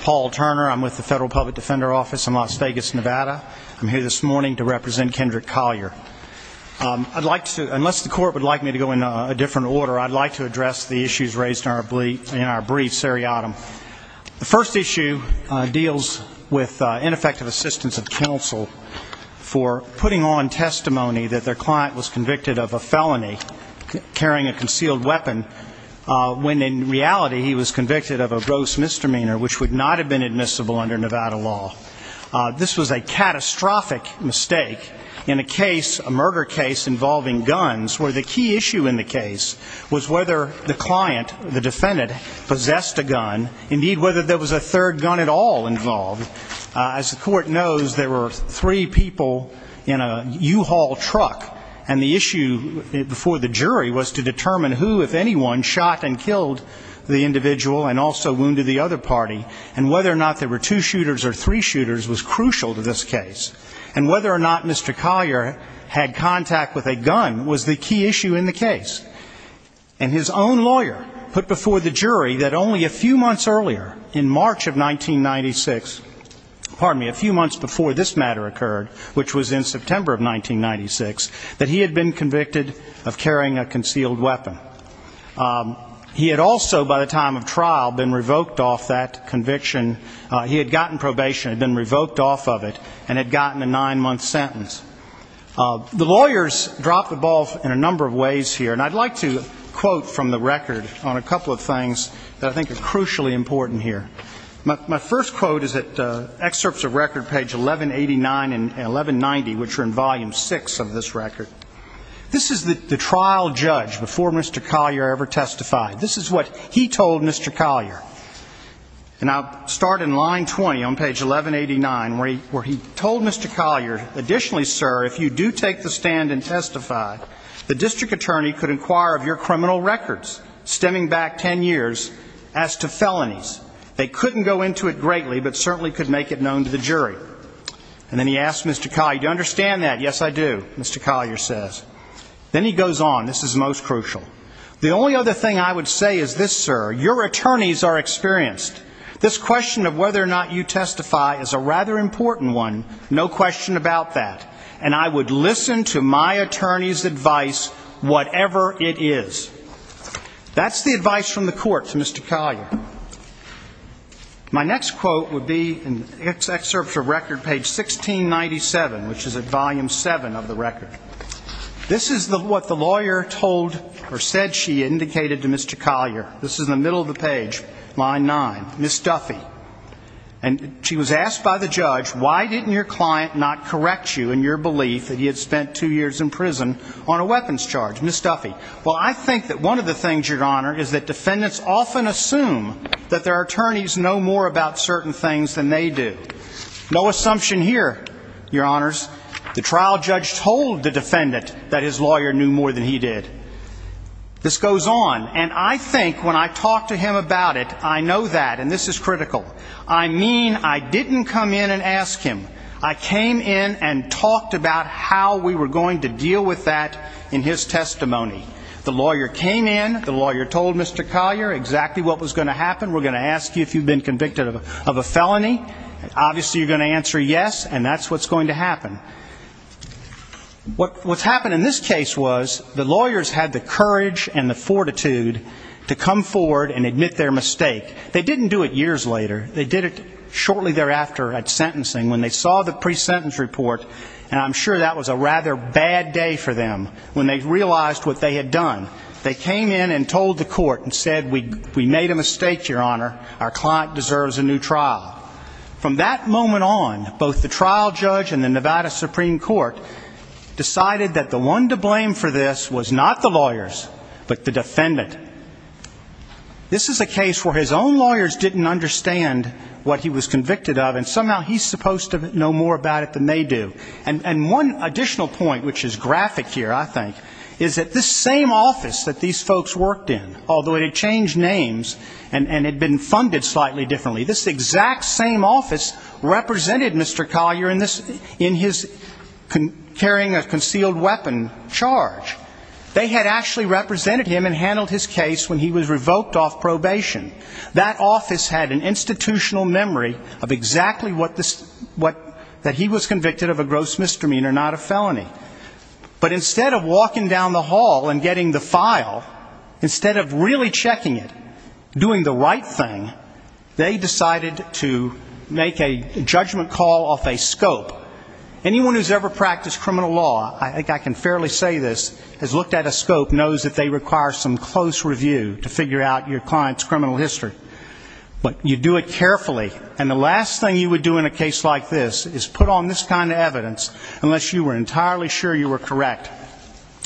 Paul Turner, Federal Public Defender Office, Las Vegas, NV I'm here this morning to represent Kendrick Collier. I'd like to, unless the court would like me to go in a different order, I'd like to address the issues raised in our brief seriatim. The first issue deals with ineffective assistance of counsel for putting on testimony that their client was convicted of a felony, carrying a concealed weapon, when in reality he was convicted of a gross misdemeanor which would not have been admissible under Nevada law. This was a catastrophic mistake in a case, a murder case involving guns, where the key issue in the case was whether the client, the defendant, possessed a gun, indeed whether there was a third gun at all involved. As the court knows, there were three people in a U-Haul truck, and the issue before the jury was to determine who, if anyone, shot and killed the individual and also wounded the other party, and whether or not there were two shooters or three shooters was crucial to this case, and whether or not Mr. Collier had contact with a gun was the key issue in the case. And his own lawyer put before the jury that only a few months earlier, in March of 1996, pardon me, a few months before this matter occurred, which was in September of 1996, that he had been convicted of carrying a concealed weapon. He had also, by the time of trial, been revoked off that conviction. He had gotten probation, had been revoked off of it, and had gotten a nine-month sentence. The lawyers dropped the ball in a number of ways here, and I'd like to quote from the record on a couple of things that I think are crucially important here. My first quote is at excerpts of record page 1189 and 1190, which are in volume six of this record. This is the trial judge before Mr. Collier ever testified. This is what he told Mr. Collier. And I'll start in line 20 on page 1189, where he told Mr. Collier, additionally, sir, if you do take the stand and testify, the district attorney could inquire of your criminal records, stemming back ten years, as to felonies. They couldn't go into it greatly, but certainly could make it known to the jury. And then he asked Mr. Collier, do you understand that? I said, yes, I do, Mr. Collier says. Then he goes on. This is most crucial. The only other thing I would say is this, sir, your attorneys are experienced. This question of whether or not you testify is a rather important one, no question about that. And I would listen to my attorney's advice, whatever it is. That's the advice from the court to Mr. Collier. All right. My next quote would be an excerpt from record page 1697, which is at volume seven of the record. This is what the lawyer told or said she indicated to Mr. Collier. This is in the middle of the page, line nine. Ms. Duffy. And she was asked by the judge, why didn't your client not correct you in your belief that he had spent two years in prison on a weapons charge? Ms. Duffy. Well, I think that one of the things, Your Honor, is that defendants often assume that their attorneys know more about certain things than they do. No assumption here, Your Honors. The trial judge told the defendant that his lawyer knew more than he did. This goes on. And I think when I talk to him about it, I know that, and this is critical, I mean I didn't come in and ask him. I came in and talked about how we were going to deal with that in his testimony. The lawyer came in, the lawyer told Mr. Collier exactly what was going to happen. We're going to ask you if you've been convicted of a felony. Obviously you're going to answer yes, and that's what's going to happen. What's happened in this case was the lawyers had the courage and the fortitude to come forward and admit their mistake. They didn't do it years later. They did it shortly thereafter at sentencing when they saw the pre-sentence report, and I'm sure that was a rather bad day for them when they realized what they had done. They came in and told the court and said, we made a mistake, Your Honor. Our client deserves a new trial. From that moment on, both the trial judge and the Nevada Supreme Court decided that the one to blame for this was not the lawyers, but the defendant. This is a case where his own lawyers didn't understand what he was convicted of, and somehow he's supposed to know more about it than they do. And one additional point which is graphic here, I think, is that this same office that these folks worked in, although it had changed names and had been funded slightly differently, this exact same office represented Mr. Collier in his carrying a concealed weapon charge. They had actually represented him and handled his case when he was revoked off probation. That office had an institutional memory of exactly what that he was convicted of a gross misdemeanor, not a felony. But instead of walking down the hall and getting the file, instead of really checking it, doing the right thing, they decided to make a judgment call off a scope. Anyone who's ever practiced criminal law, I think I can fairly say this, has looked at a scope, knows that they require some close review to figure out your client's criminal history. But you do it carefully, and the justice is put on this kind of evidence, unless you were entirely sure you were correct.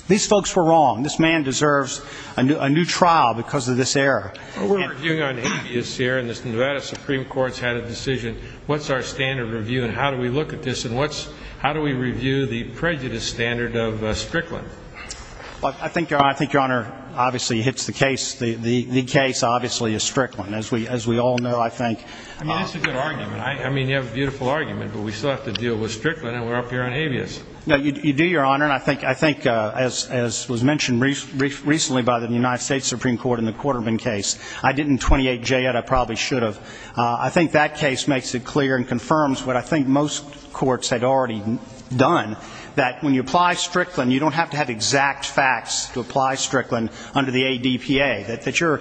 These folks were wrong. This man deserves a new trial because of this error. But we're reviewing on habeas here, and the Nevada Supreme Court's had a decision. What's our standard review, and how do we look at this, and how do we review the prejudice standard of Strickland? I think, Your Honor, obviously hits the case. The case, obviously, is Strickland. As we all know, I think. I mean, that's a good argument. I mean, you have a beautiful argument, but we still have to deal with Strickland, and we're up here on habeas. No, you do, Your Honor. And I think, as was mentioned recently by the United States Supreme Court in the Quarterman case, I didn't 28J it. I probably should have. I think that case makes it clear and confirms what I think most courts had already done, that when you apply Strickland, you don't have to have exact facts to apply Strickland under the ADPA. The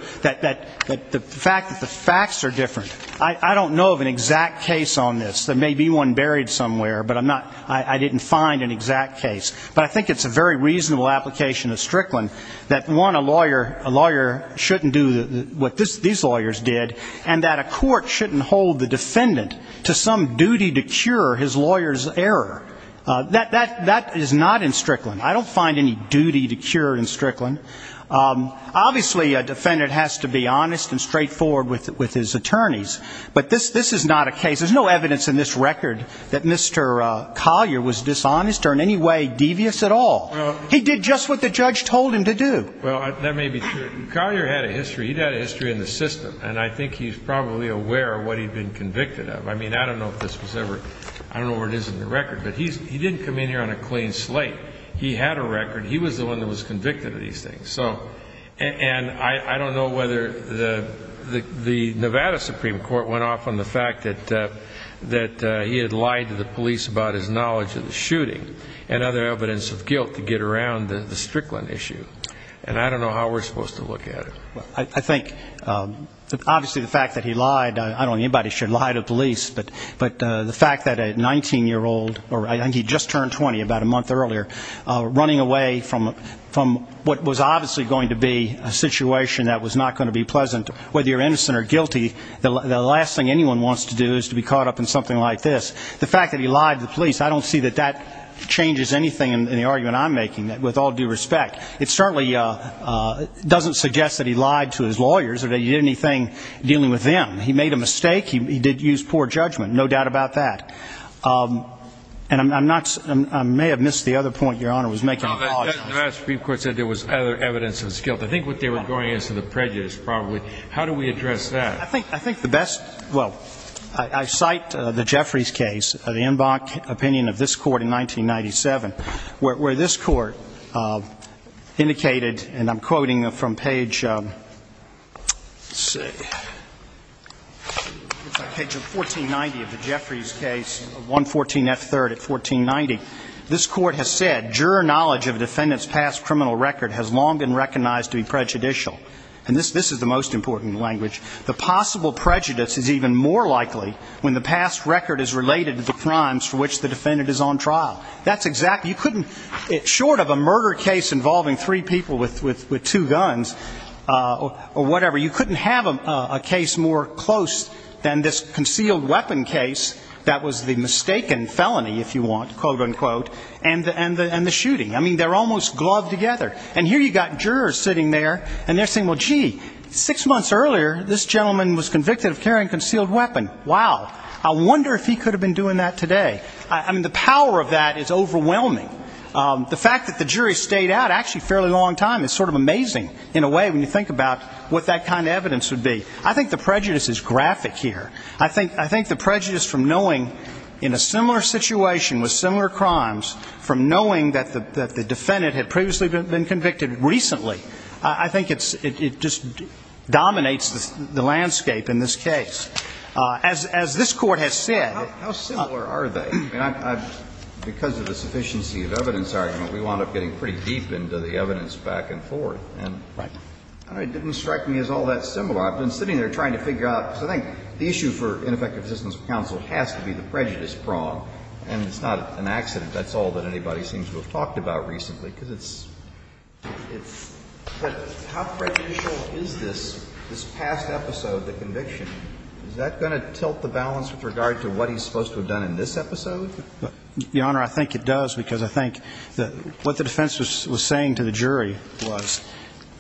fact that the facts are different, I don't know of an exact case on this. There may be one buried somewhere, but I'm not, I didn't find an exact case. But I think it's a very reasonable application of Strickland that, one, a lawyer shouldn't do what these lawyers did, and that a court shouldn't hold the defendant to some duty to cure his lawyer's error. That is not in Strickland. I don't find any duty to cure in Strickland. Obviously, a defendant has to be honest and straightforward with his attorneys. But this is not a case, there's no evidence in this record that Mr. Collier was dishonest or in any way devious at all. He did just what the judge told him to do. Well, that may be true. Collier had a history, he'd had a history in the system, and I think he's probably aware of what he'd been convicted of. I mean, I don't know if this was ever, I don't know where it is in the record, but he didn't come in here on a clean slate. He had a record. He was the one that was convicted of these things. And I don't know whether the Nevada Supreme Court went off on the fact that he had lied to the police about his knowledge of the shooting and other evidence of guilt to get around the Strickland issue. And I don't know how we're supposed to look at it. I think, obviously, the fact that he lied, I don't think anybody should lie to police, but the fact that a 19-year-old, or I think he just turned 20 about a month earlier, running away from what was obviously going to be a situation that was not going to be pleasant, whether you're innocent or guilty, the last thing anyone wants to do is to be caught up in something like this. The fact that he lied to the police, I don't see that that changes anything in the argument I'm making, with all due respect. It certainly doesn't suggest that he lied to his lawyers or that he did anything dealing with them. He made a mistake. He did use poor judgment, no doubt about that. And I may have missed the other point Your Honor was making. The Nevada Supreme Court said there was other evidence of his guilt. I think what they were going is to the prejudice, probably. How do we address that? I think the best, well, I cite the Jeffries case, the Inbach opinion of this court in page 1490 of the Jeffries case, 114 F. 3rd at 1490. This court has said, Juror knowledge of defendant's past criminal record has long been recognized to be prejudicial. And this is the most important language. The possible prejudice is even more likely when the past record is related to the crimes for which the defendant is on trial. That's exactly you couldn't, short of a murder case involving three people with two guns, or whatever, you and this concealed weapon case that was the mistaken felony, if you want, quote, unquote, and the shooting. I mean, they're almost gloved together. And here you've got jurors sitting there and they're saying, well, gee, six months earlier, this gentleman was convicted of carrying concealed weapon. Wow. I wonder if he could have been doing that today. I mean, the power of that is overwhelming. The fact that the jury stayed out actually a fairly long time is sort of amazing, in a way, when you think about what that kind of evidence would be. I think the prejudice is graphic here. I think the prejudice from knowing in a similar situation with similar crimes, from knowing that the defendant had previously been convicted recently, I think it just dominates the landscape in this case. As this Court has said How similar are they? Because of the sufficiency of evidence argument, we wound up getting pretty deep into the evidence back and forth. And it didn't strike me as all that similar. So I've been sitting there trying to figure out, because I think the issue for ineffective assistance of counsel has to be the prejudice prong. And it's not an accident. That's all that anybody seems to have talked about recently, because it's, it's, but how prejudicial is this, this past episode, the conviction? Is that going to tilt the balance with regard to what he's supposed to have done in this episode? Your Honor, I think it does, because I think that what the defense was saying to the jury was,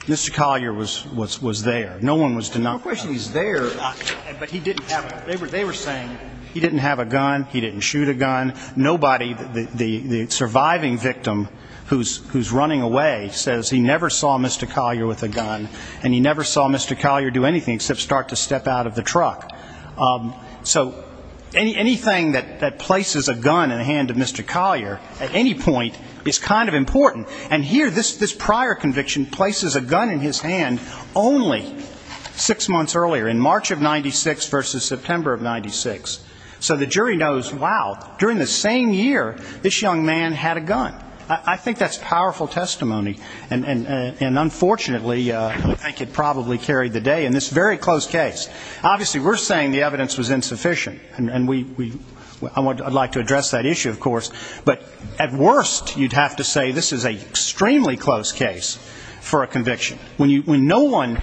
Mr. Collier was, was, was there. No one was denouncing him. No question he's there, but he didn't have a gun. They were, they were saying he didn't have a gun. He didn't shoot a gun. Nobody, the, the, the surviving victim who's, who's running away says he never saw Mr. Collier with a gun. And he never saw Mr. Collier do anything except start to step out of the truck. So any, anything that, that places a gun in the hand of Mr. Collier, at any point, is kind of important. And here, this, this prior conviction places a gun in his hand only six months earlier, in March of 96 versus September of 96. So the jury knows, wow, during the same year, this young man had a gun. I, I think that's powerful testimony. And, and, and unfortunately, I think it probably carried the day in this very close case. Obviously, we're saying the evidence was insufficient. And, and we, we, I want to, I'd like to address that issue, of course. But at worst, you'd have to say this is a extremely close case for a conviction. When you, when no one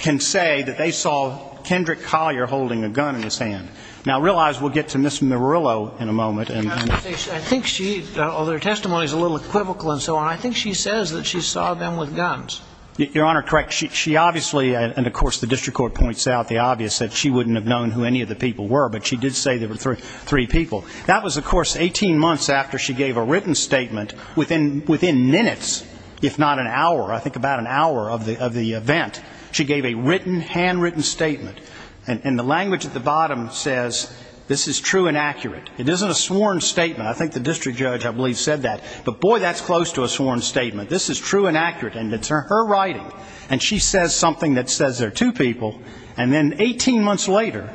can say that they saw Kendrick Collier holding a gun in his hand. Now, realize, we'll get to Ms. Murillo in a moment, and I think she, although her testimony is a little equivocal and so on, I think she says that she saw them with guns. Your Honor, correct. She, she obviously, and of course, the district court points out the obvious, that she wouldn't have known who any of the people were. But she did say there were three people. That was, of course, 18 months after she gave a written statement within, within minutes, if not an hour, I think about an hour of the, of the event. She gave a written, handwritten statement. And the language at the bottom says, this is true and accurate. It isn't a sworn statement. I think the district judge, I believe, said that. But boy, that's close to a sworn statement. This is true and accurate. And it's her writing. And she says something that says there are two people. And then 18 months later,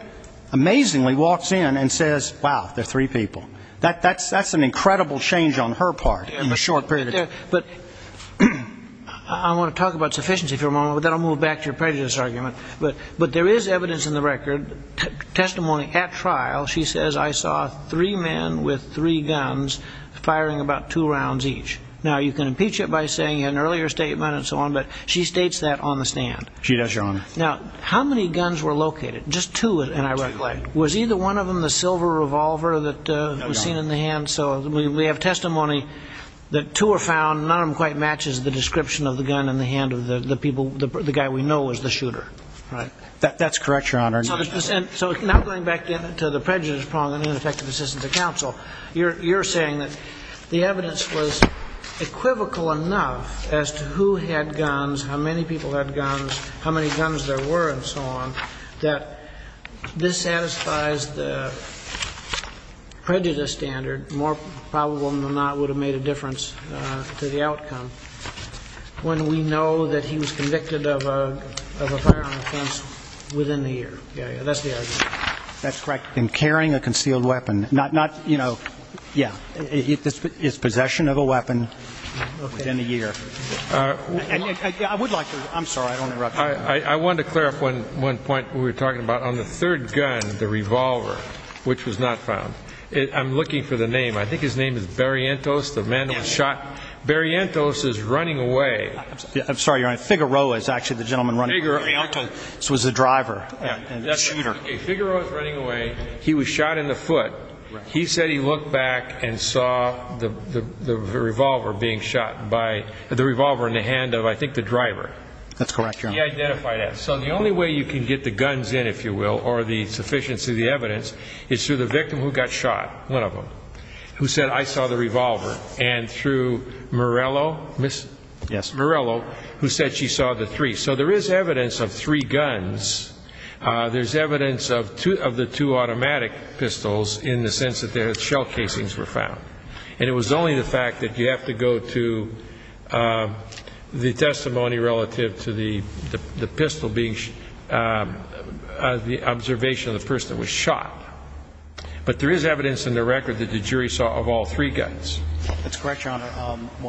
amazingly walks in and says, wow, there are three people. That, that's, that's an incredible change on her part. In a short period of time. But I want to talk about sufficiency for a moment, but then I'll move back to your prejudice argument. But, but there is evidence in the record, testimony at trial, she says, I saw three men with three guns firing about two rounds each. Now, you can impeach it by saying you had an earlier statement and so on, but she states that on the stand. She does, Your Honor. Now, how many guns were located? Just two. And I recollect, was either one of them the silver revolver that was seen in the hand? So we have testimony that two are found. None of them quite matches the description of the gun in the hand of the people, the guy we know is the shooter, right? That's correct, Your Honor. So, so now going back to the prejudice problem and ineffective assistance to counsel, you're, you're saying that the evidence was equivocal enough as to who had guns, how many people had guns, how many guns there were and so on, that this satisfies the prejudice standard, more probable than not would have made a difference to the outcome when we know that he was convicted of a, of a firearm offense within a year. Yeah, yeah. That's the argument. That's correct. In carrying a concealed weapon, not, not, you know, yeah, it's possession of a weapon within a year. I would like to, I'm sorry, I don't want to interrupt you. I wanted to clarify one point we were talking about. On the third gun, the revolver, which was not found, I'm looking for the name. I think his name is Barrientos, the man that was shot. Barrientos is running away. I'm sorry, Your Honor. Figueroa is actually the gentleman running away. Barrientos was the driver and the shooter. Figueroa is running away. He was shot in the foot. He said he looked back and saw the, the revolver being shot by, the revolver in the hand of, I think, the driver. That's correct, Your Honor. He identified that. So the only way you can get the guns in, if you will, or the sufficiency of the evidence, is through the victim who got shot, one of them, who said, I saw the revolver, and through Morello, Ms. Morello, who said she saw the three. So there is evidence of three guns. There's evidence of two, of the two automatic pistols in the sense that the shell casings were found. And it was only the fact that you have to go to the testimony relative to the, the pistol being, the observation of the person that was shot. But there is evidence in the record that the jury saw of all three guns. That's correct, Your Honor.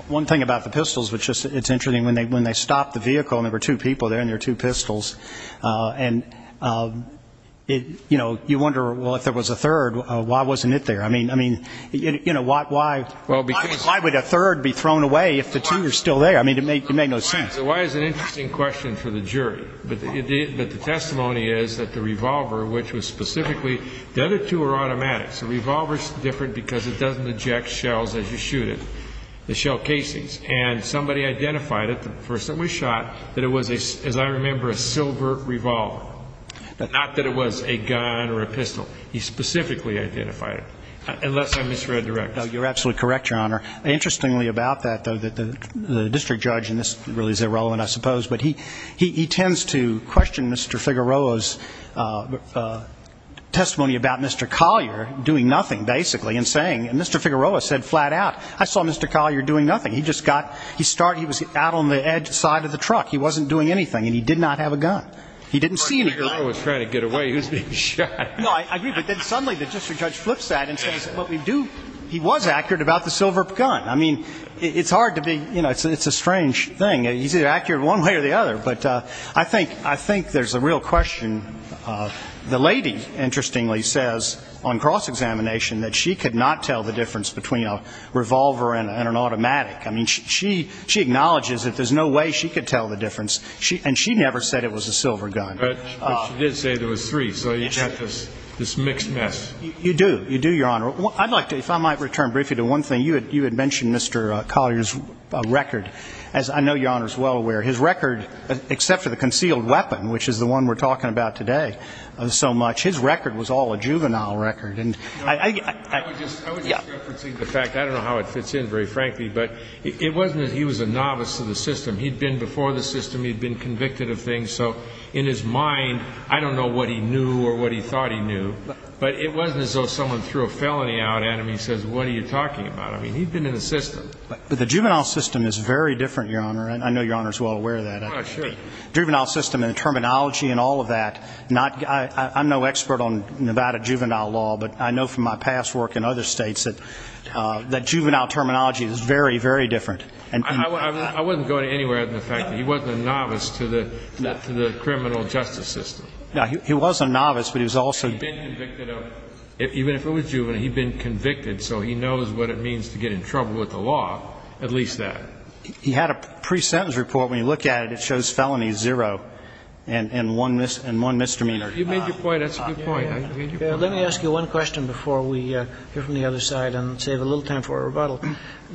One thing about the pistols, which is, it's interesting, when they, when they stopped the vehicle, and there were two people there and there were two pistols, and it, you know, you wonder, well, if there was a third, why wasn't it there? I mean, I mean, you know, why, why, why would a third be thrown away if the two are still there? I mean, it made no sense. So why is it an interesting question for the jury? But the testimony is that the revolver, which was specifically, the other two are automatics. The revolver is different because it doesn't eject shells as you shoot it, the shell casings. And somebody identified it the first time we shot that it was a, as I remember, a silver revolver. Not that it was a gun or a pistol. He specifically identified it. Unless I misread the records. You're absolutely correct, Your Honor. Interestingly about that, though, that the, the district judge, and this really is irrelevant, I suppose, but he, he, he tends to question Mr. Figueroa's testimony about Mr. Collier doing nothing, basically, and saying, and Mr. Figueroa said he was doing nothing. He just got, he started, he was out on the edge side of the truck. He wasn't doing anything. And he did not have a gun. He didn't see anything. If Mr. Figueroa was trying to get away, he was being shot. No, I agree. But then suddenly the district judge flips that and says, what we do, he was accurate about the silver gun. I mean, it's hard to be, you know, it's a strange thing. He's either accurate one way or the other. But I think, I think there's a real question. The lady, interestingly, says on cross-examination that she could not tell the difference between a revolver and an automatic. I mean, she, she, she acknowledges that there's no way she could tell the difference. She, and she never said it was a silver gun. But, but she did say there was three. So you have this, this mixed mess. You do. You do, Your Honor. I'd like to, if I might return briefly to one thing. You had, you had mentioned Mr. Collier's record. As I know Your Honor is well aware, his record, except for the concealed weapon, which is the one we're talking about today, so much, his record was all a juvenile record. And I, I, I, I, I would just reference the fact, I don't know how it fits in very frankly, but it, it wasn't as he was a novice to the system. He'd been before the system. He'd been convicted of things. So in his mind, I don't know what he knew or what he thought he knew, but it wasn't as though someone threw a felony out at him. He says, what are you talking about? I mean, he'd been in the system. But the juvenile system is very different, Your Honor. And I know Your Honor is well aware of that. Sure. Juvenile system and the terminology and all of that, not, I, I'm no expert on Nevada juvenile law, but I know from my past work and other states that, that juvenile terminology is very, very different. And I, I, I, I wasn't going anywhere other than the fact that he wasn't a novice to the, to the criminal justice system. No, he, he was a novice, but he was also. He'd been convicted of, even if it was juvenile, he'd been convicted. So he knows what it means to get in trouble with the law, at least that. He had a pre-sentence report. When you look at it, it shows felony zero and one mis, and one misdemeanor. You made your point. That's a good point. Let me ask you one question before we hear from the other side and save a little time for a rebuttal.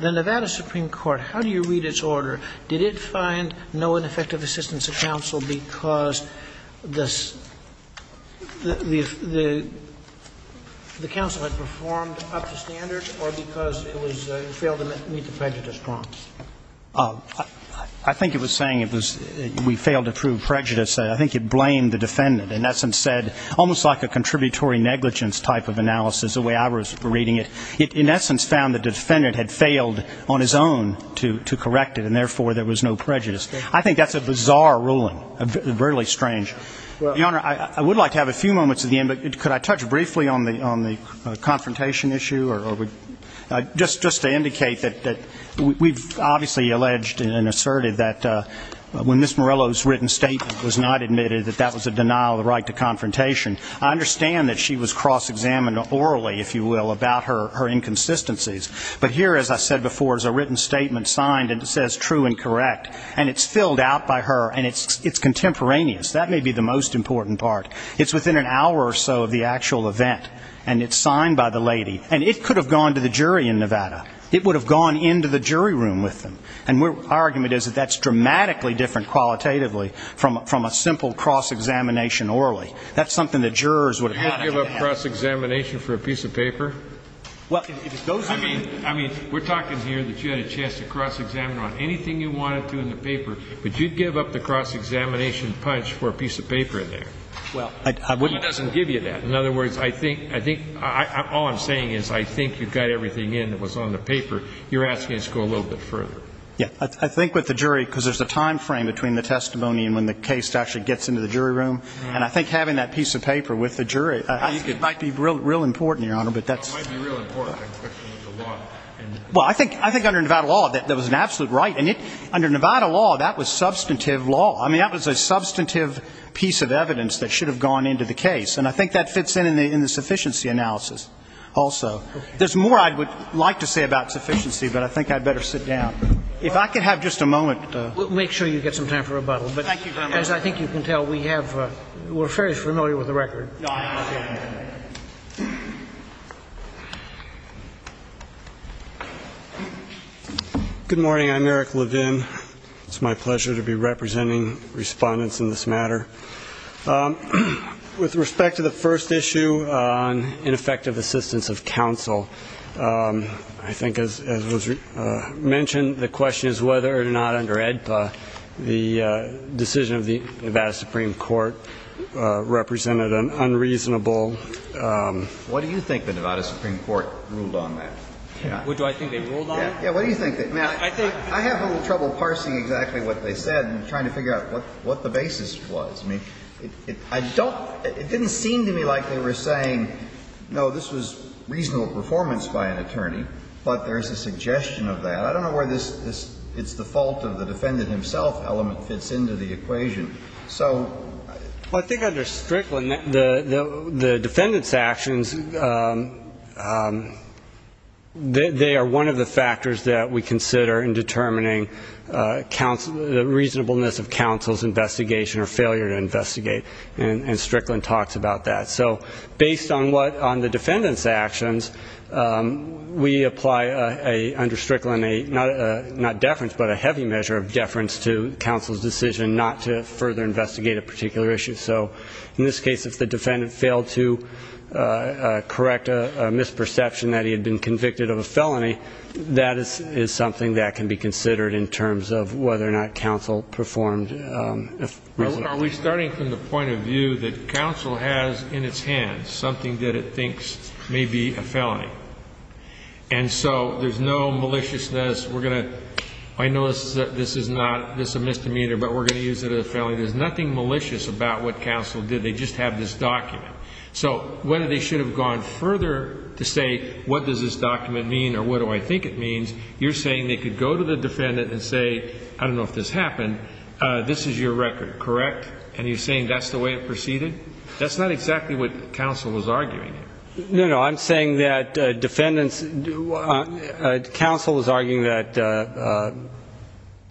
The Nevada Supreme Court, how do you read its order? Did it find no ineffective assistance of counsel because the, the, the, the counsel had performed up to standard or because it was, it failed to meet the prejudice prompts? I think it was saying it was, we failed to prove prejudice. I think it blamed the defendant. In essence said, almost like a contributory negligence type of analysis, the way I was reading it. It, in essence, found the defendant had failed on his own to, to correct it and therefore there was no prejudice. I think that's a bizarre ruling, really strange. Your Honor, I, I would like to have a few moments at the end, but could I touch briefly on the, on the confrontation issue or, or would, just, just to indicate that, that we've obviously alleged and asserted that when Ms. Morello's written statement was not admitted that that was a denial of the right to confrontation. I understand that she was cross-examined orally, if you will, about her, her inconsistencies. But here, as I said before, is a written statement signed and it says true and correct. And it's filled out by her and it's, it's contemporaneous. That may be the most important part. It's within an hour or so of the actual event and it's signed by the lady. And it could have gone to the jury in Nevada. It would have gone into the jury room with them. And we're, our argument is that that's dramatically different qualitatively from, from a simple cross-examination orally. That's something the jurors would have had. Would you give up cross-examination for a piece of paper? Well, if those are the... I mean, I mean, we're talking here that you had a chance to cross-examine her on anything you wanted to in the paper, but you'd give up the cross-examination punch for a piece of paper in there. Well, I, I wouldn't... Well, he doesn't give you that. In other words, I think, I think, I, I, all I'm saying is I think you got everything in that was on the paper. You're asking us to go a little bit further. Yeah. I, I think with the jury, because there's a timeframe between the testimony and when the case actually gets into the jury room. And I think having that piece of paper with the jury, I think it might be real, real important, Your Honor, but that's... It might be real important. I'm questioning the law and... Well, I think, I think under Nevada law, that, that was an absolute right. And it, under Nevada law, that was substantive law. I mean, that was a substantive piece of evidence that should have gone into the case. And I think that fits in, in the, in the sufficiency analysis also. Okay. There's more I would like to say about sufficiency, but I think I'd better sit down. If I could have just a moment... We'll make sure you get some time for rebuttal, but as I think you can tell, we have, we're fairly familiar with the record. Good morning. I'm Eric Levin. It's my pleasure to be representing respondents in this matter. With respect to the first issue on ineffective assistance of counsel, I think as was mentioned, the question is whether or not under AEDPA, the decision of the Nevada Supreme Court represented an unreasonable... What do you think the Nevada Supreme Court ruled on that? What do I think they ruled on? Yeah. Yeah. What do you think? I think... I have a little trouble parsing exactly what they said and trying to figure out what, what the basis was. I mean, I don't, it didn't seem to me like they were saying, no, this was reasonable performance by an attorney, but there's a suggestion of that. I don't know where this, this, it's the fault of the defendant himself element fits into the equation. So... Well, I think under Strickland, the, the, the defendant's actions, they, they are one of the factors that we consider in determining, uh, counsel, the reasonableness of counsel's investigation or failure to investigate. And, and Strickland talks about that. So based on what, on the defendant's actions, um, we apply a, a, under Strickland, a, not a, a, not deference, but a heavy measure of deference to counsel's decision not to further investigate a particular issue. So in this case, if the defendant failed to, uh, uh, correct a misperception that he had been convicted of a felony, that is, is something that can be considered in terms of whether or not counsel performed, um, a reasonable... Are we starting from the point of view that counsel has in its hands something that it thinks may be a felony? And so there's no maliciousness. We're going to, I know this is, this is not, this is a misdemeanor, but we're going to use it as a felony. There's nothing malicious about what counsel did. They just have this document. So whether they should have gone further to say, what does this document mean? Or what do I think it means? You're saying they could go to the defendant and say, I don't know if this happened. Uh, this is your record, correct? And you're saying that's the way it proceeded? That's not exactly what counsel was arguing. No, no. I'm saying that, uh, defendants do, uh, counsel was arguing that, uh, uh,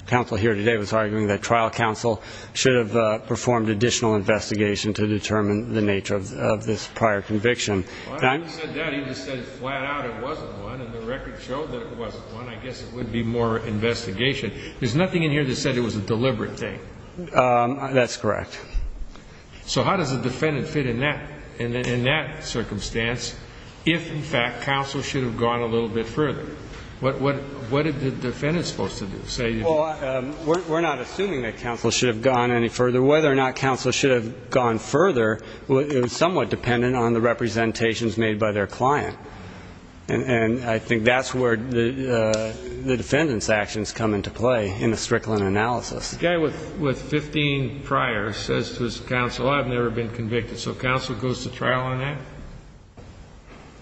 counsel here today was arguing that trial counsel should have, uh, performed additional investigation to determine the nature of, of this prior conviction. Well, I don't think he said that. He just said flat out it wasn't one, and the record showed that it wasn't one. I guess it would be more investigation. There's nothing in here that said it was a deliberate thing. Um, that's correct. So how does the defendant fit in that, in that, in that circumstance if, in fact, counsel should have gone a little bit further? What, what, what is the defendant supposed to do? Say... Well, um, we're, we're not assuming that counsel should have gone any further. Whether or not counsel should have gone further, well, it was somewhat dependent on the representations made by their client. And I think that's where the, uh, the defendant's actions come into play in the Strickland analysis. The guy with, with 15 prior says to his counsel, I've never been convicted. So counsel goes to trial on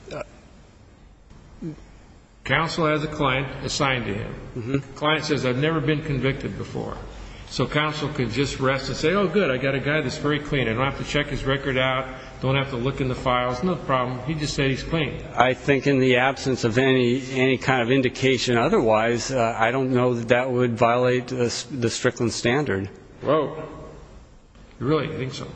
that? Counsel has a client assigned to him. Mm-hmm. Client says, I've never been convicted before. So counsel can just rest and say, oh, good, I got a guy that's very clean. I don't have to check his record out. Don't have to look in the files. No problem. He just said he's clean. I think in the absence of any, any kind of indication otherwise, uh, I don't know that that would violate the Strickland standard. Whoa. Really? I think so.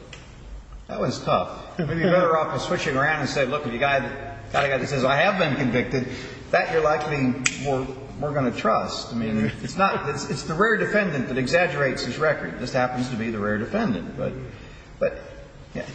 That was tough. Maybe you're better off just switching around and say, look, if you got a guy that says, I have been convicted, that you're likely I think we're, we're going to trust. I mean, it's not, it's, it's the rare defendant that exaggerates his record. This happens to be the rare defendant. But, but, yeah.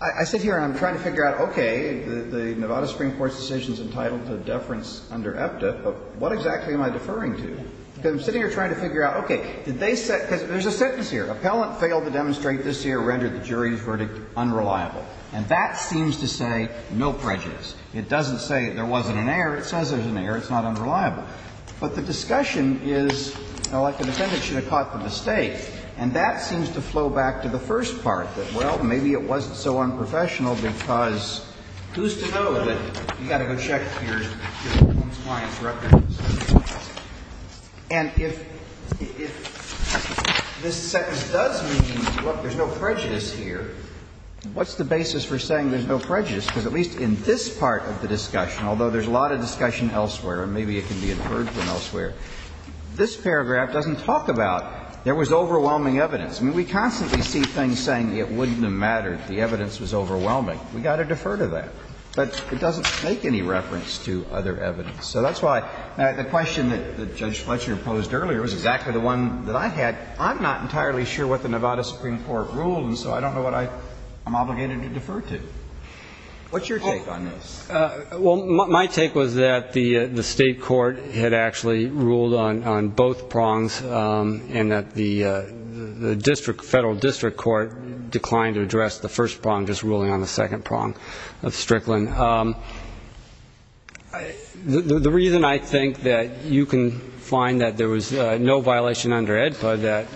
I sit here and I'm trying to figure out, okay, the, the Nevada Supreme Court's decision's entitled to a deference under EPTA, but what exactly am I deferring to? Because I'm sitting here trying to figure out, okay, did they set, because there's a sentence here. Appellant failed to demonstrate this year, rendered the jury's verdict unreliable. And that seems to say no prejudice. It doesn't say there wasn't an error. It says there's an error. It's not unreliable. But the discussion is, well, like the defendant should have caught the mistake. And that seems to flow back to the first part, that, well, maybe it wasn't so unprofessional because who's to know that you've got to go check your, your client's records. And if, if this sentence does mean, look, there's no prejudice here, what's the basis for saying there's no prejudice? Because at least in this part of the discussion, although there's a lot of discussion elsewhere, and maybe it can be inferred from elsewhere, this paragraph doesn't talk about there was overwhelming evidence. I mean, we constantly see things saying it wouldn't have mattered, the evidence was overwhelming. We've got to defer to that. But it doesn't make any reference to other evidence. So that's why the question that Judge Fletcher posed earlier was exactly the one that I had. I'm not entirely sure what the Nevada Supreme Court ruled, and so I don't know what I'm obligated to defer to. What's your take on this? Well, my take was that the State court had actually ruled on, on both prongs, and that the District, Federal District Court declined to address the first prong, just ruling on the second prong of Strickland. The reason I think that you can find that there was no violation under AEDPA that,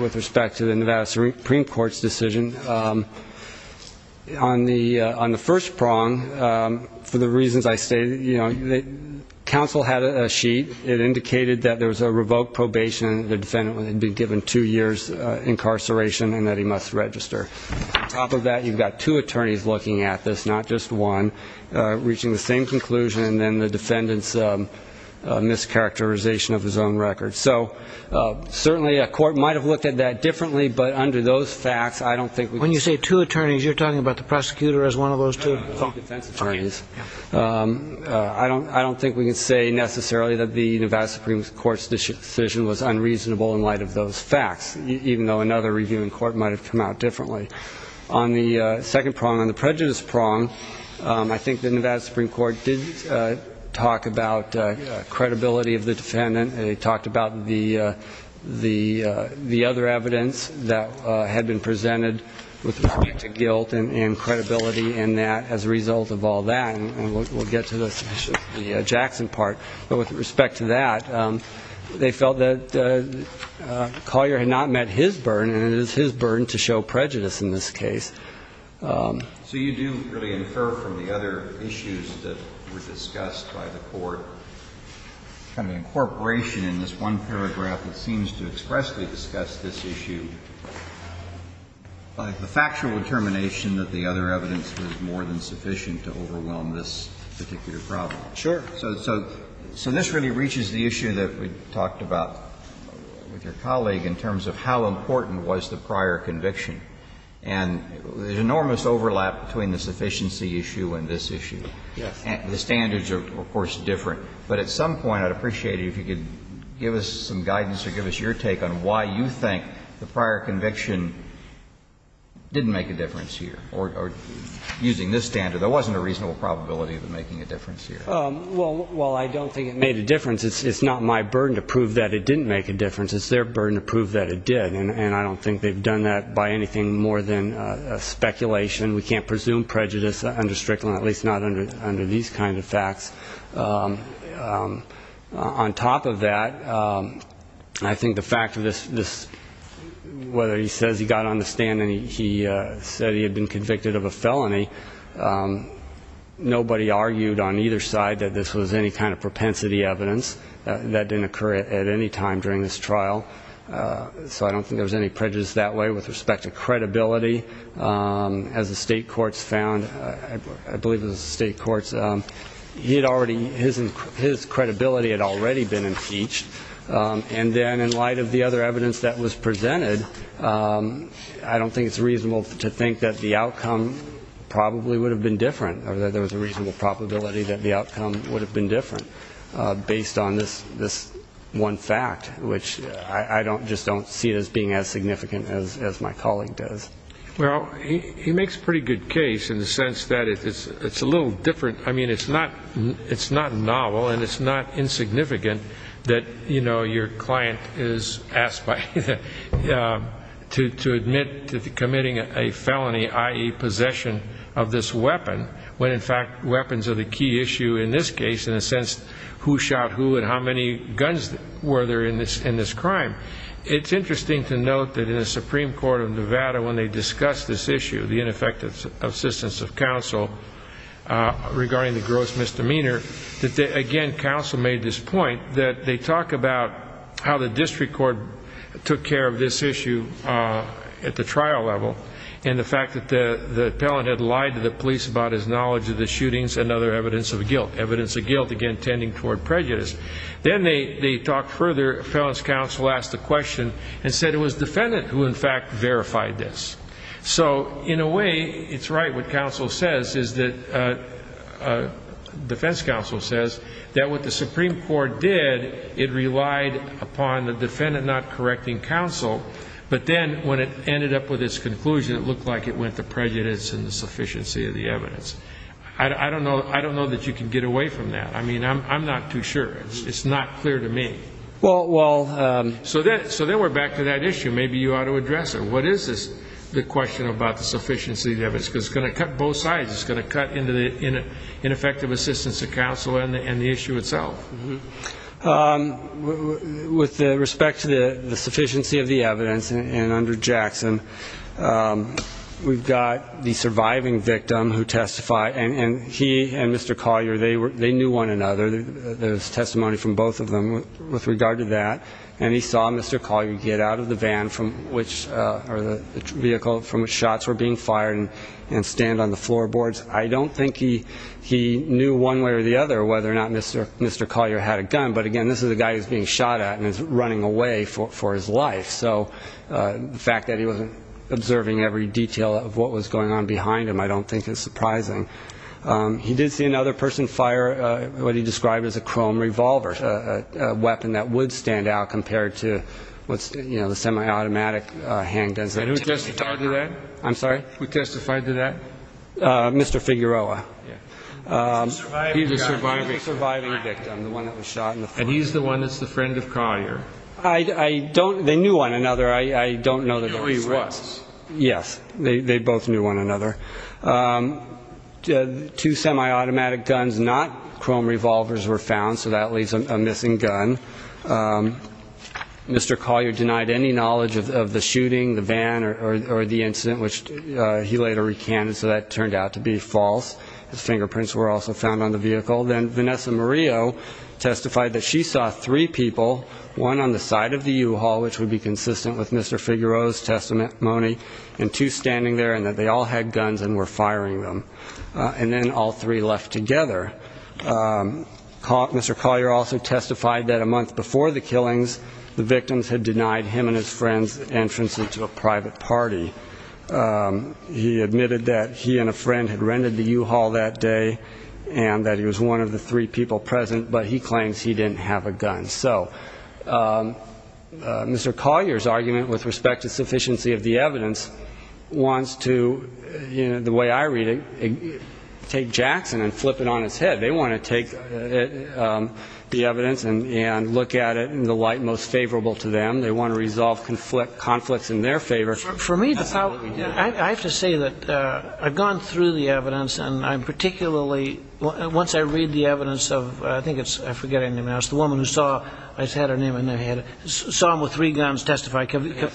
with respect to the Nevada Supreme Court's decision, on the, on the first prong, for the reasons I stated, you know, the council had a sheet. It indicated that there was a revoked probation, the defendant would be given two years incarceration, and that he must register. On top of that, you've got two attorneys looking at this, not just one, reaching the same conclusion, and then the defendant's mischaracterization of his own record. So certainly, a court might have looked at that differently, but under those facts, I don't think we can say. When you say two attorneys, you're talking about the prosecutor as one of those two attorneys. I don't, I don't think we can say necessarily that the Nevada Supreme Court's decision was unreasonable in light of those facts, even though another review in court might have come out differently. On the second prong, on the prejudice prong, I think the Nevada Supreme Court did talk about credibility of the defendant, and they talked about the, the, the other evidence that had been presented with respect to guilt and credibility, and that, as a result of all that, and we'll get to the Jackson part, but with respect to that, they felt that Collier had not met his burden, and it is his burden to show prejudice in this case. So you do really infer from the other issues that were discussed by the court, kind of an incorporation in this one paragraph that seems to expressly discuss this issue by the factual determination that the other evidence was more than sufficient to overwhelm this particular problem. Sure. So, so, so this really reaches the issue that we talked about with your colleague in terms of how important was the prior conviction. And there's enormous overlap between the sufficiency issue and this issue. And the standards are, of course, different. But at some point I'd appreciate it if you could give us some guidance or give us your take on why you think the prior conviction didn't make a difference here, or using this standard. There wasn't a reasonable probability of it making a difference here. Well, well, I don't think it made a difference. It's not my burden to prove that it didn't make a difference. It's their burden to prove that it did. And I don't think they've done that by anything more than speculation. We can't presume prejudice under Strickland, at least not under under these kind of facts. On top of that, I think the fact of this, this, whether he says he got on the stand and he said he had been convicted of a felony, nobody argued on either side that this was any kind of propensity evidence. That didn't occur at any time during this trial. So I don't think there was any prejudice that way with respect to credibility. As the state courts found, I believe it was the state courts, he had already, his credibility had already been impeached. And then in light of the other evidence that was presented, I don't think it's reasonable to think that the outcome probably would have been different or that there was a reasonable probability that the outcome would have been different based on this this one fact, which I don't just don't see it as being as significant as my colleague does. Well, he makes a pretty good case in the sense that it's a little different. I mean, it's not it's not novel and it's not insignificant that, you know, your client is asked to admit to committing a felony, i.e. possession of this weapon, when in fact weapons are the key issue in this case, in a sense, who shot who and how many guns were there in this in this crime. It's interesting to note that in the Supreme Court of Nevada, when they discussed this issue, the ineffectiveness of assistance of counsel regarding the gross misdemeanor, that again, counsel made this point that they talk about how the district court took care of this issue at the trial level and the fact that the appellant had lied to the police about his knowledge of the shootings and other evidence of guilt, evidence of guilt, again, tending toward prejudice. Then they talk further. Appellant's counsel asked the question and said it was defendant who in fact verified this. So in a way, it's right what counsel says is that defense counsel says that what the Supreme Court did, it relied upon the defendant not correcting counsel. But then when it ended up with this conclusion, it looked like it went to prejudice and the sufficiency of the evidence. I don't know. I don't know that you can get away from that. I mean, I'm not too sure. It's not clear to me. Well, well, so that so then we're back to that issue. Maybe you ought to address it. What is the question about the sufficiency of the evidence? Because it's going to cut both sides. It's going to cut into the ineffective assistance of counsel and the issue itself. With respect to the sufficiency of the evidence and under Jackson, we've got the surviving victim who testified, and he and Mr. Collier, they knew one another. There's testimony from both of them with regard to that. And he saw Mr. Collier get out of the vehicle from which shots were being fired and stand on the floorboards. I don't think he knew one way or the other whether or not Mr. Collier had a gun. But again, this is a guy who's being shot at and is running away for his life. So the fact that he wasn't observing every detail of what was going on behind him, I don't think is surprising. He did see another person fire what he described as a chrome revolver, a weapon that would stand out compared to what's the semi-automatic handguns. And who testified to that? I'm sorry? Who testified to that? Mr. Figueroa. He's the surviving victim, the one that was shot in the foot. And he's the one that's the friend of Collier. I don't, they knew one another. I don't know that they were friends. Yes, they both knew one another. Two semi-automatic guns, not chrome revolvers, were found. So that leaves a missing gun. Mr. Collier denied any knowledge of the shooting, the van, or the incident, which he later recanted. So that turned out to be false. His fingerprints were also found on the vehicle. Then Vanessa Murillo testified that she saw three people, one on the side of the U-Haul, which would be consistent with Mr. Figueroa's testimony, and two standing there, and that they all had guns and were firing them. And then all three left together. Mr. Collier also testified that a month before the killings, the victims had denied him and his friends' entrance into a private party. He admitted that he and a friend had rented the U-Haul that day, and that he was one of the three people present, but he claims he didn't have a gun. So Mr. Collier's argument with respect to sufficiency of the evidence wants to, the way I read it, take Jackson and flip it on its head. They want to take the evidence and look at it in the light most favorable to them. They want to resolve conflicts in their favor. For me, I have to say that I've gone through the evidence, and I'm particularly, once I read the evidence of, I think it's, I forget her name now, it's the woman who saw, I just had her name in there, saw him with three guns testify, Camillo?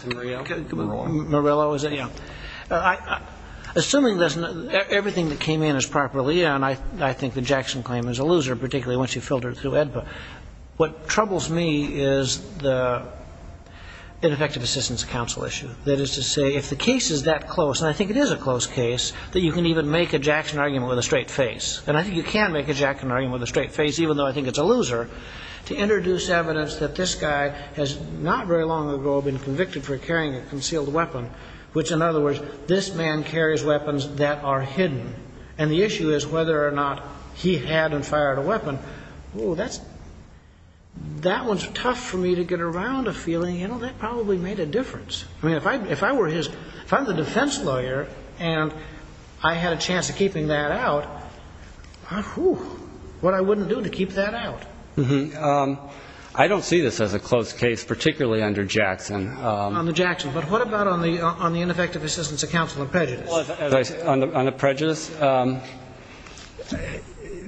Camillo? Murillo. Murillo, is it? Yeah. Assuming everything that came in is properly, and I think the Jackson claim is a loser, particularly once you filter it through AEDPA, what troubles me is the ineffective assistance counsel issue. That is to say, if the case is that close, and I think it is a close case, that you can even make a Jackson argument with a straight face. And I think you can make a Jackson argument with a straight face, even though I think it's a loser, to introduce evidence that this guy has not very long ago been convicted for carrying a concealed weapon, which, in other words, this man carries weapons that are hidden. And the issue is whether or not he had and fired a weapon, oh, that's, that one's tough for me to get around a feeling, you know, that probably made a difference. I mean, if I were his, if I'm the defense lawyer, and I had a chance of keeping that out, what I wouldn't do to keep that out. I don't see this as a close case, particularly under Jackson. On the Jackson. But what about on the ineffective assistance of counsel on prejudice? On the prejudice,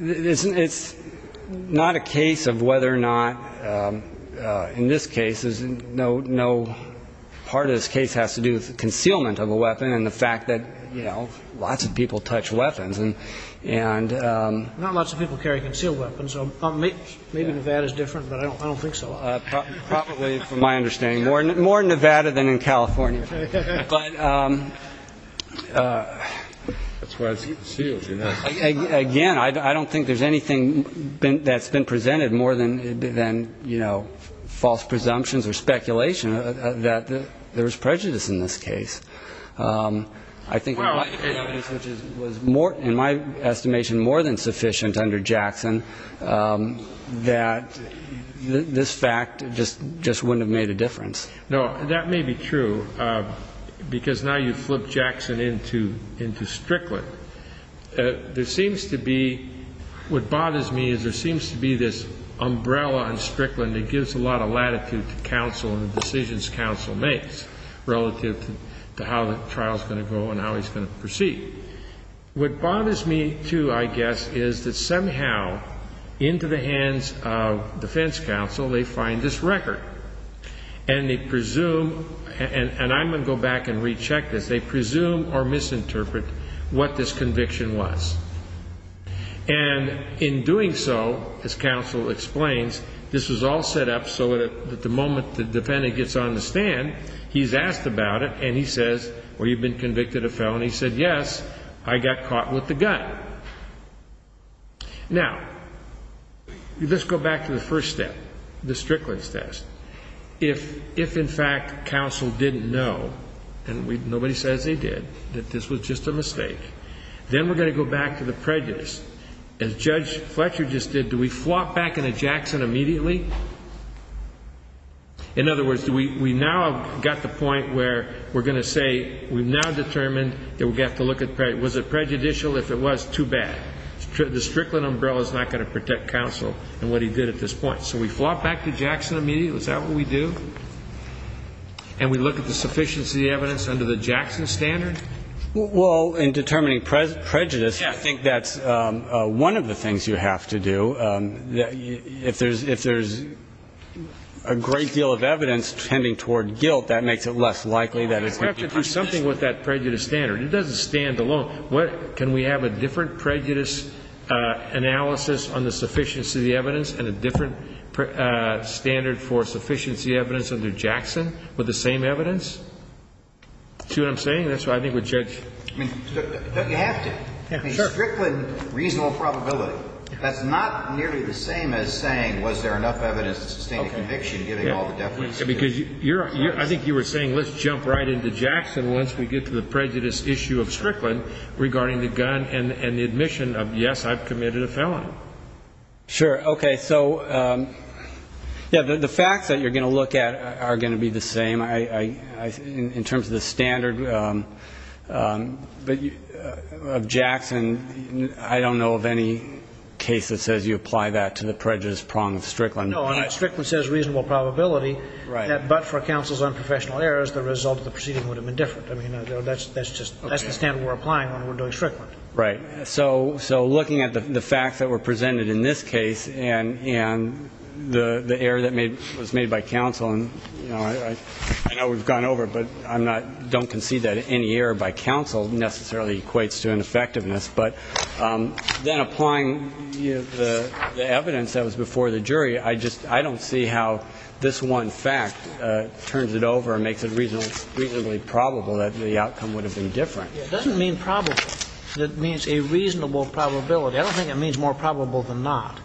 it's not a case of whether or not, in this case, no part of this case has to do with the concealment of a weapon and the fact that, you know, lots of people touch weapons. And not lots of people carry concealed weapons, so maybe Nevada's different, but I don't think so. Well, probably from my understanding, more in Nevada than in California. But again, I don't think there's anything that's been presented more than, you know, false presumptions or speculation that there was prejudice in this case. I think, which was more, in my estimation, more than sufficient under Jackson that this act just wouldn't have made a difference. No, that may be true, because now you flip Jackson into Strickland. There seems to be, what bothers me is there seems to be this umbrella on Strickland that gives a lot of latitude to counsel and the decisions counsel makes relative to how the trial's going to go and how he's going to proceed. What bothers me, too, I guess, is that somehow, into the hands of defense counsel, they find this record and they presume, and I'm going to go back and recheck this, they presume or misinterpret what this conviction was. And in doing so, as counsel explains, this was all set up so that the moment the defendant gets on the stand, he's asked about it and he says, well, you've been convicted of this. Yes, I got caught with the gun. Now let's go back to the first step, the Strickland test. If in fact counsel didn't know, and nobody says they did, that this was just a mistake, then we're going to go back to the prejudice. As Judge Fletcher just did, do we flop back into Jackson immediately? In other words, do we now have got the point where we're going to say we've now determined that we have to look at, was it prejudicial? If it was, too bad. The Strickland umbrella is not going to protect counsel in what he did at this point. So we flop back to Jackson immediately, is that what we do? And we look at the sufficiency of the evidence under the Jackson standard? Well, in determining prejudice, I think that's one of the things you have to do. If there's a great deal of evidence tending toward guilt, that makes it less likely that it's going to be prejudicial. But if we're going to do something with that prejudice standard, it doesn't stand alone. Can we have a different prejudice analysis on the sufficiency of the evidence and a different standard for sufficiency of the evidence under Jackson with the same evidence? See what I'm saying? That's what I think we're judging. But you have to. Strickland, reasonable probability. That's not nearly the same as saying, was there enough evidence to sustain a conviction given all the definitions? Because I think you were saying, let's jump right into Jackson. Once we get to the prejudice issue of Strickland regarding the gun and the admission of, yes, I've committed a felony. Sure. OK. So the facts that you're going to look at are going to be the same in terms of the standard of Jackson. I don't know of any case that says you apply that to the prejudice prong of Strickland. No. Strickland says reasonable probability. Right. But for counsel's unprofessional errors, the result of the proceeding would have been different. That's the standard we're applying when we're doing Strickland. Right. So looking at the facts that were presented in this case and the error that was made by counsel, and I know we've gone over it, but I don't concede that any error by counsel necessarily equates to ineffectiveness. But then applying the evidence that was before the jury, I just, I don't see how this one fact turns it over and makes it reasonably probable that the outcome would have been different. It doesn't mean probable. It means a reasonable probability. I don't think it means more probable than not.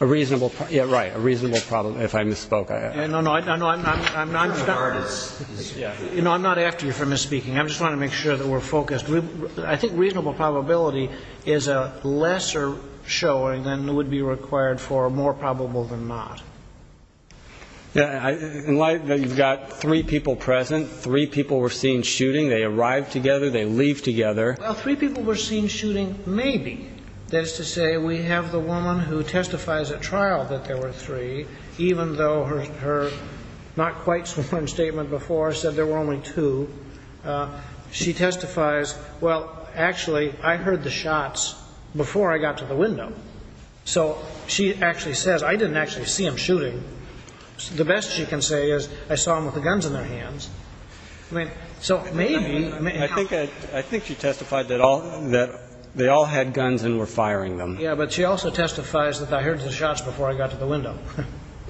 A reasonable, yeah, right. A reasonable, if I misspoke. No, no. I'm not after you for misspeaking. I'm just trying to make sure that we're focused. I think reasonable probability is a lesser showing than would be required for more probable than not. Yeah. In light that you've got three people present, three people were seen shooting. They arrived together. They leave together. Well, three people were seen shooting, maybe, that is to say we have the woman who testifies at trial that there were three, even though her not quite sworn statement before said there were only two. She testifies, well, actually, I heard the shots before I got to the window. So she actually says, I didn't actually see them shooting. The best she can say is I saw them with the guns in their hands. So maybe, I think she testified that they all had guns and were firing them. Yeah, but she also testifies that I heard the shots before I got to the window.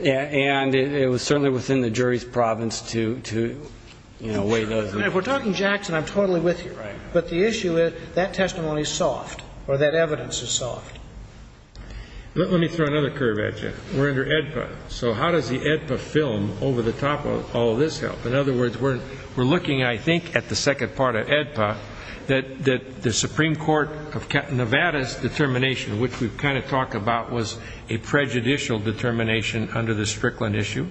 And it was certainly within the jury's province to weigh those. If we're talking Jackson, I'm totally with you. But the issue is that testimony is soft, or that evidence is soft. Let me throw another curve at you. We're under AEDPA. So how does the AEDPA film over the top of all this help? In other words, we're looking, I think, at the second part of AEDPA, that the Supreme Court of Nevada's determination, which we've kind of talked about, was a prejudicial determination under the Strickland issue.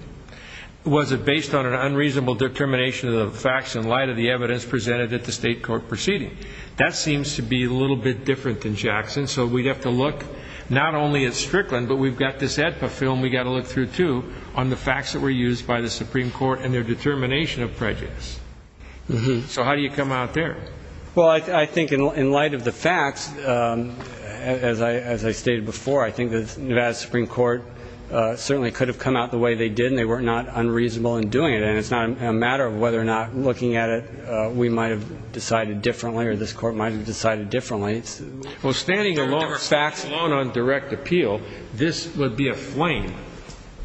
Was it based on an unreasonable determination of the facts in light of the evidence presented at the state court proceeding? That seems to be a little bit different than Jackson. So we'd have to look not only at Strickland, but we've got this AEDPA film we've got to look through, too, on the facts that were used by the Supreme Court and their determination of prejudice. So how do you come out there? Well, I think in light of the facts, as I stated before, I think the Nevada Supreme Court certainly could have come out the way they did, and they were not unreasonable in doing it. And it's not a matter of whether or not looking at it, we might have decided differently, or this court might have decided differently. Well, standing alone, facts alone on direct appeal, this would be a flame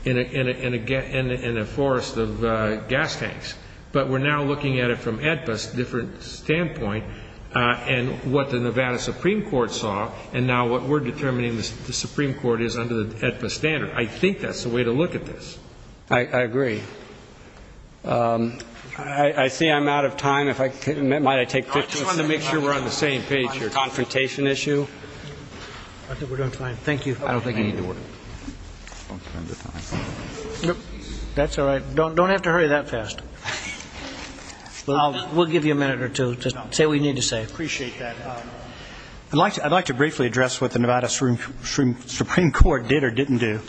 in a forest of gas tanks. But we're now looking at it from AEDPA's different standpoint, and what the Nevada Supreme Court saw, and now what we're determining the Supreme Court is under the AEDPA standard. I think that's the way to look at this. I agree. I see I'm out of time. If I could, might I take 15 seconds? I just wanted to make sure we're on the same page. Your confrontation issue? I think we're doing fine. Thank you. I don't think you need to work. That's all right. Don't have to hurry that fast. Well, we'll give you a minute or two to say what you need to say. I appreciate that. I'd like to briefly address what the Nevada Supreme Court did or didn't do.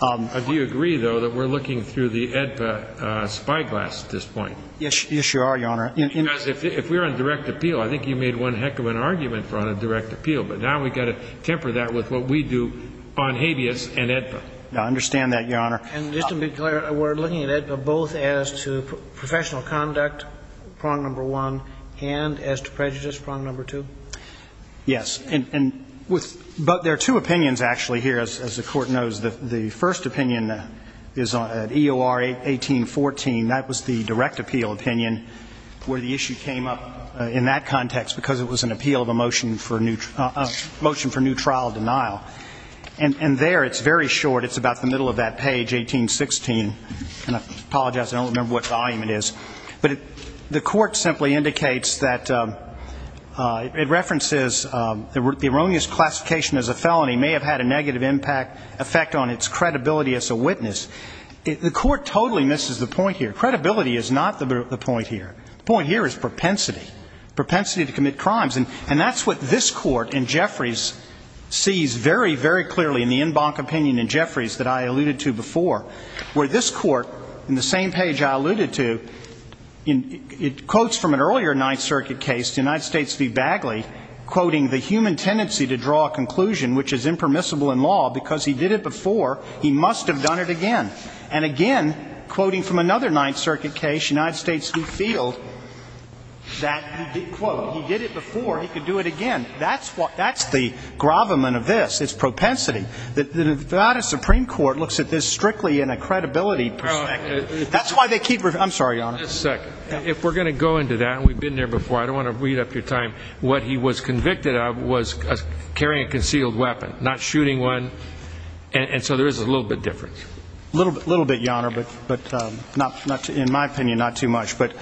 Do you agree, though, that we're looking through the AEDPA spyglass at this point? Yes, you are, Your Honor. Because if we're on direct appeal, I think you made one heck of an argument for on a direct appeal, but now we've got to temper that with what we do on habeas and AEDPA. I understand that, Your Honor. And just to be clear, we're looking at it both as to professional conduct, prong number one, and as to prejudice, prong number two? Yes. But there are two opinions, actually, here, as the court knows. The first opinion is at EOR 1814. That was the direct appeal opinion where the issue came up in that context because it was an appeal of a motion for new trial denial. And there, it's very short. It's about the middle of that page, 1816. And I apologize. I don't remember what volume it is. But the court simply indicates that it references the erroneous classification as a felony may have had a negative impact effect on its credibility as a witness. The court totally misses the point here. Credibility is not the point here. The point here is propensity, propensity to commit crimes. And that's what this court and Jeffrey's sees very, very clearly in the en banc opinion in Jeffrey's that I alluded to before, where this court, in the same page I alluded to, quotes from an earlier Ninth Circuit case, the United States v. Bagley, quoting, the human tendency to draw a conclusion which is impermissible in law because he did it before, he must have done it again. And again, quoting from another Ninth Circuit case, United States v. Field, that, quote, he did it before, he could do it again. That's the gravamen of this. It's propensity. The Nevada Supreme Court looks at this strictly in a credibility perspective. That's why they keep, I'm sorry, Your Honor. Just a second. If we're going to go into that, and we've been there before, I don't want to read up your time. What he was convicted of was carrying a concealed weapon, not shooting one. And so there is a little bit difference. Little bit, Your Honor, but in my opinion, not too much. But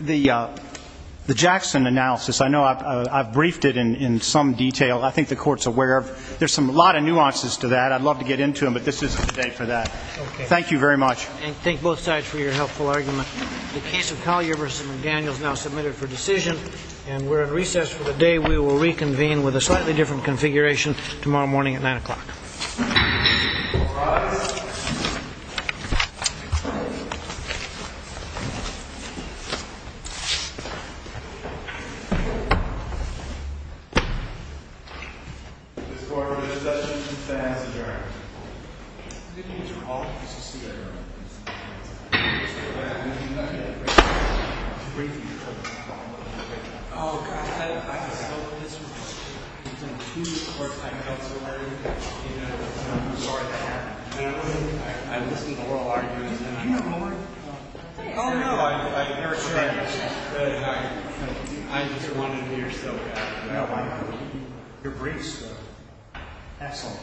the Jackson analysis, I know I've briefed it in some detail. I think the Court's aware of. There's a lot of nuances to that. I'd love to get into them, but this isn't the day for that. Thank you very much. And thank both sides for your helpful argument. The case of Collier v. McDaniel is now submitted for decision, and we're at recess for the day. We will reconvene with a slightly different configuration tomorrow morning at 9 o'clock. This court is in session. The defense is adjourned. Good evening to all of you, Mr. Segal, Your Honor. Mr. McDaniel, you're not getting a brief. It's a brief, Your Honor. Oh, God, I'm so disappointed. There's only two courts I've been to, Your Honor. I'm sorry that happened. I've listened to oral arguments. Do you have a moment? Oh, no, I never said anything. I'm just wondering if you're still here. No, I'm not. Your briefs were excellent.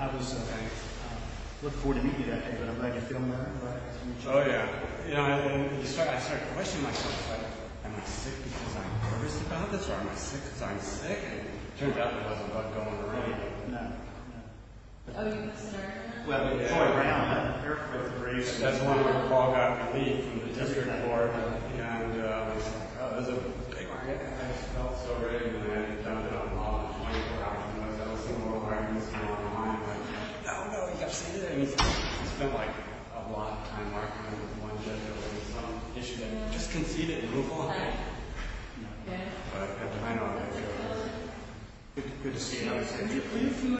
I was looking forward to meeting you that day, but I'm glad you filmed that. Oh, yeah. You know, I started questioning myself. Am I sick because I'm nervous about this, or am I sick because I'm sick? It turns out it wasn't about going to ring. No. Oh, you were concerned? Well, before I ran out of air for the briefs, that's when Paul got relieved from the district court and was like, oh, this is a big market. I just felt so ready when I found out about 24 hours. I was listening to oral arguments. Oh, no, you haven't said anything. It's been like a long time. I'm just one judge. Just concede it and move on. No. I know how that feels. Good to see you, Your Honor.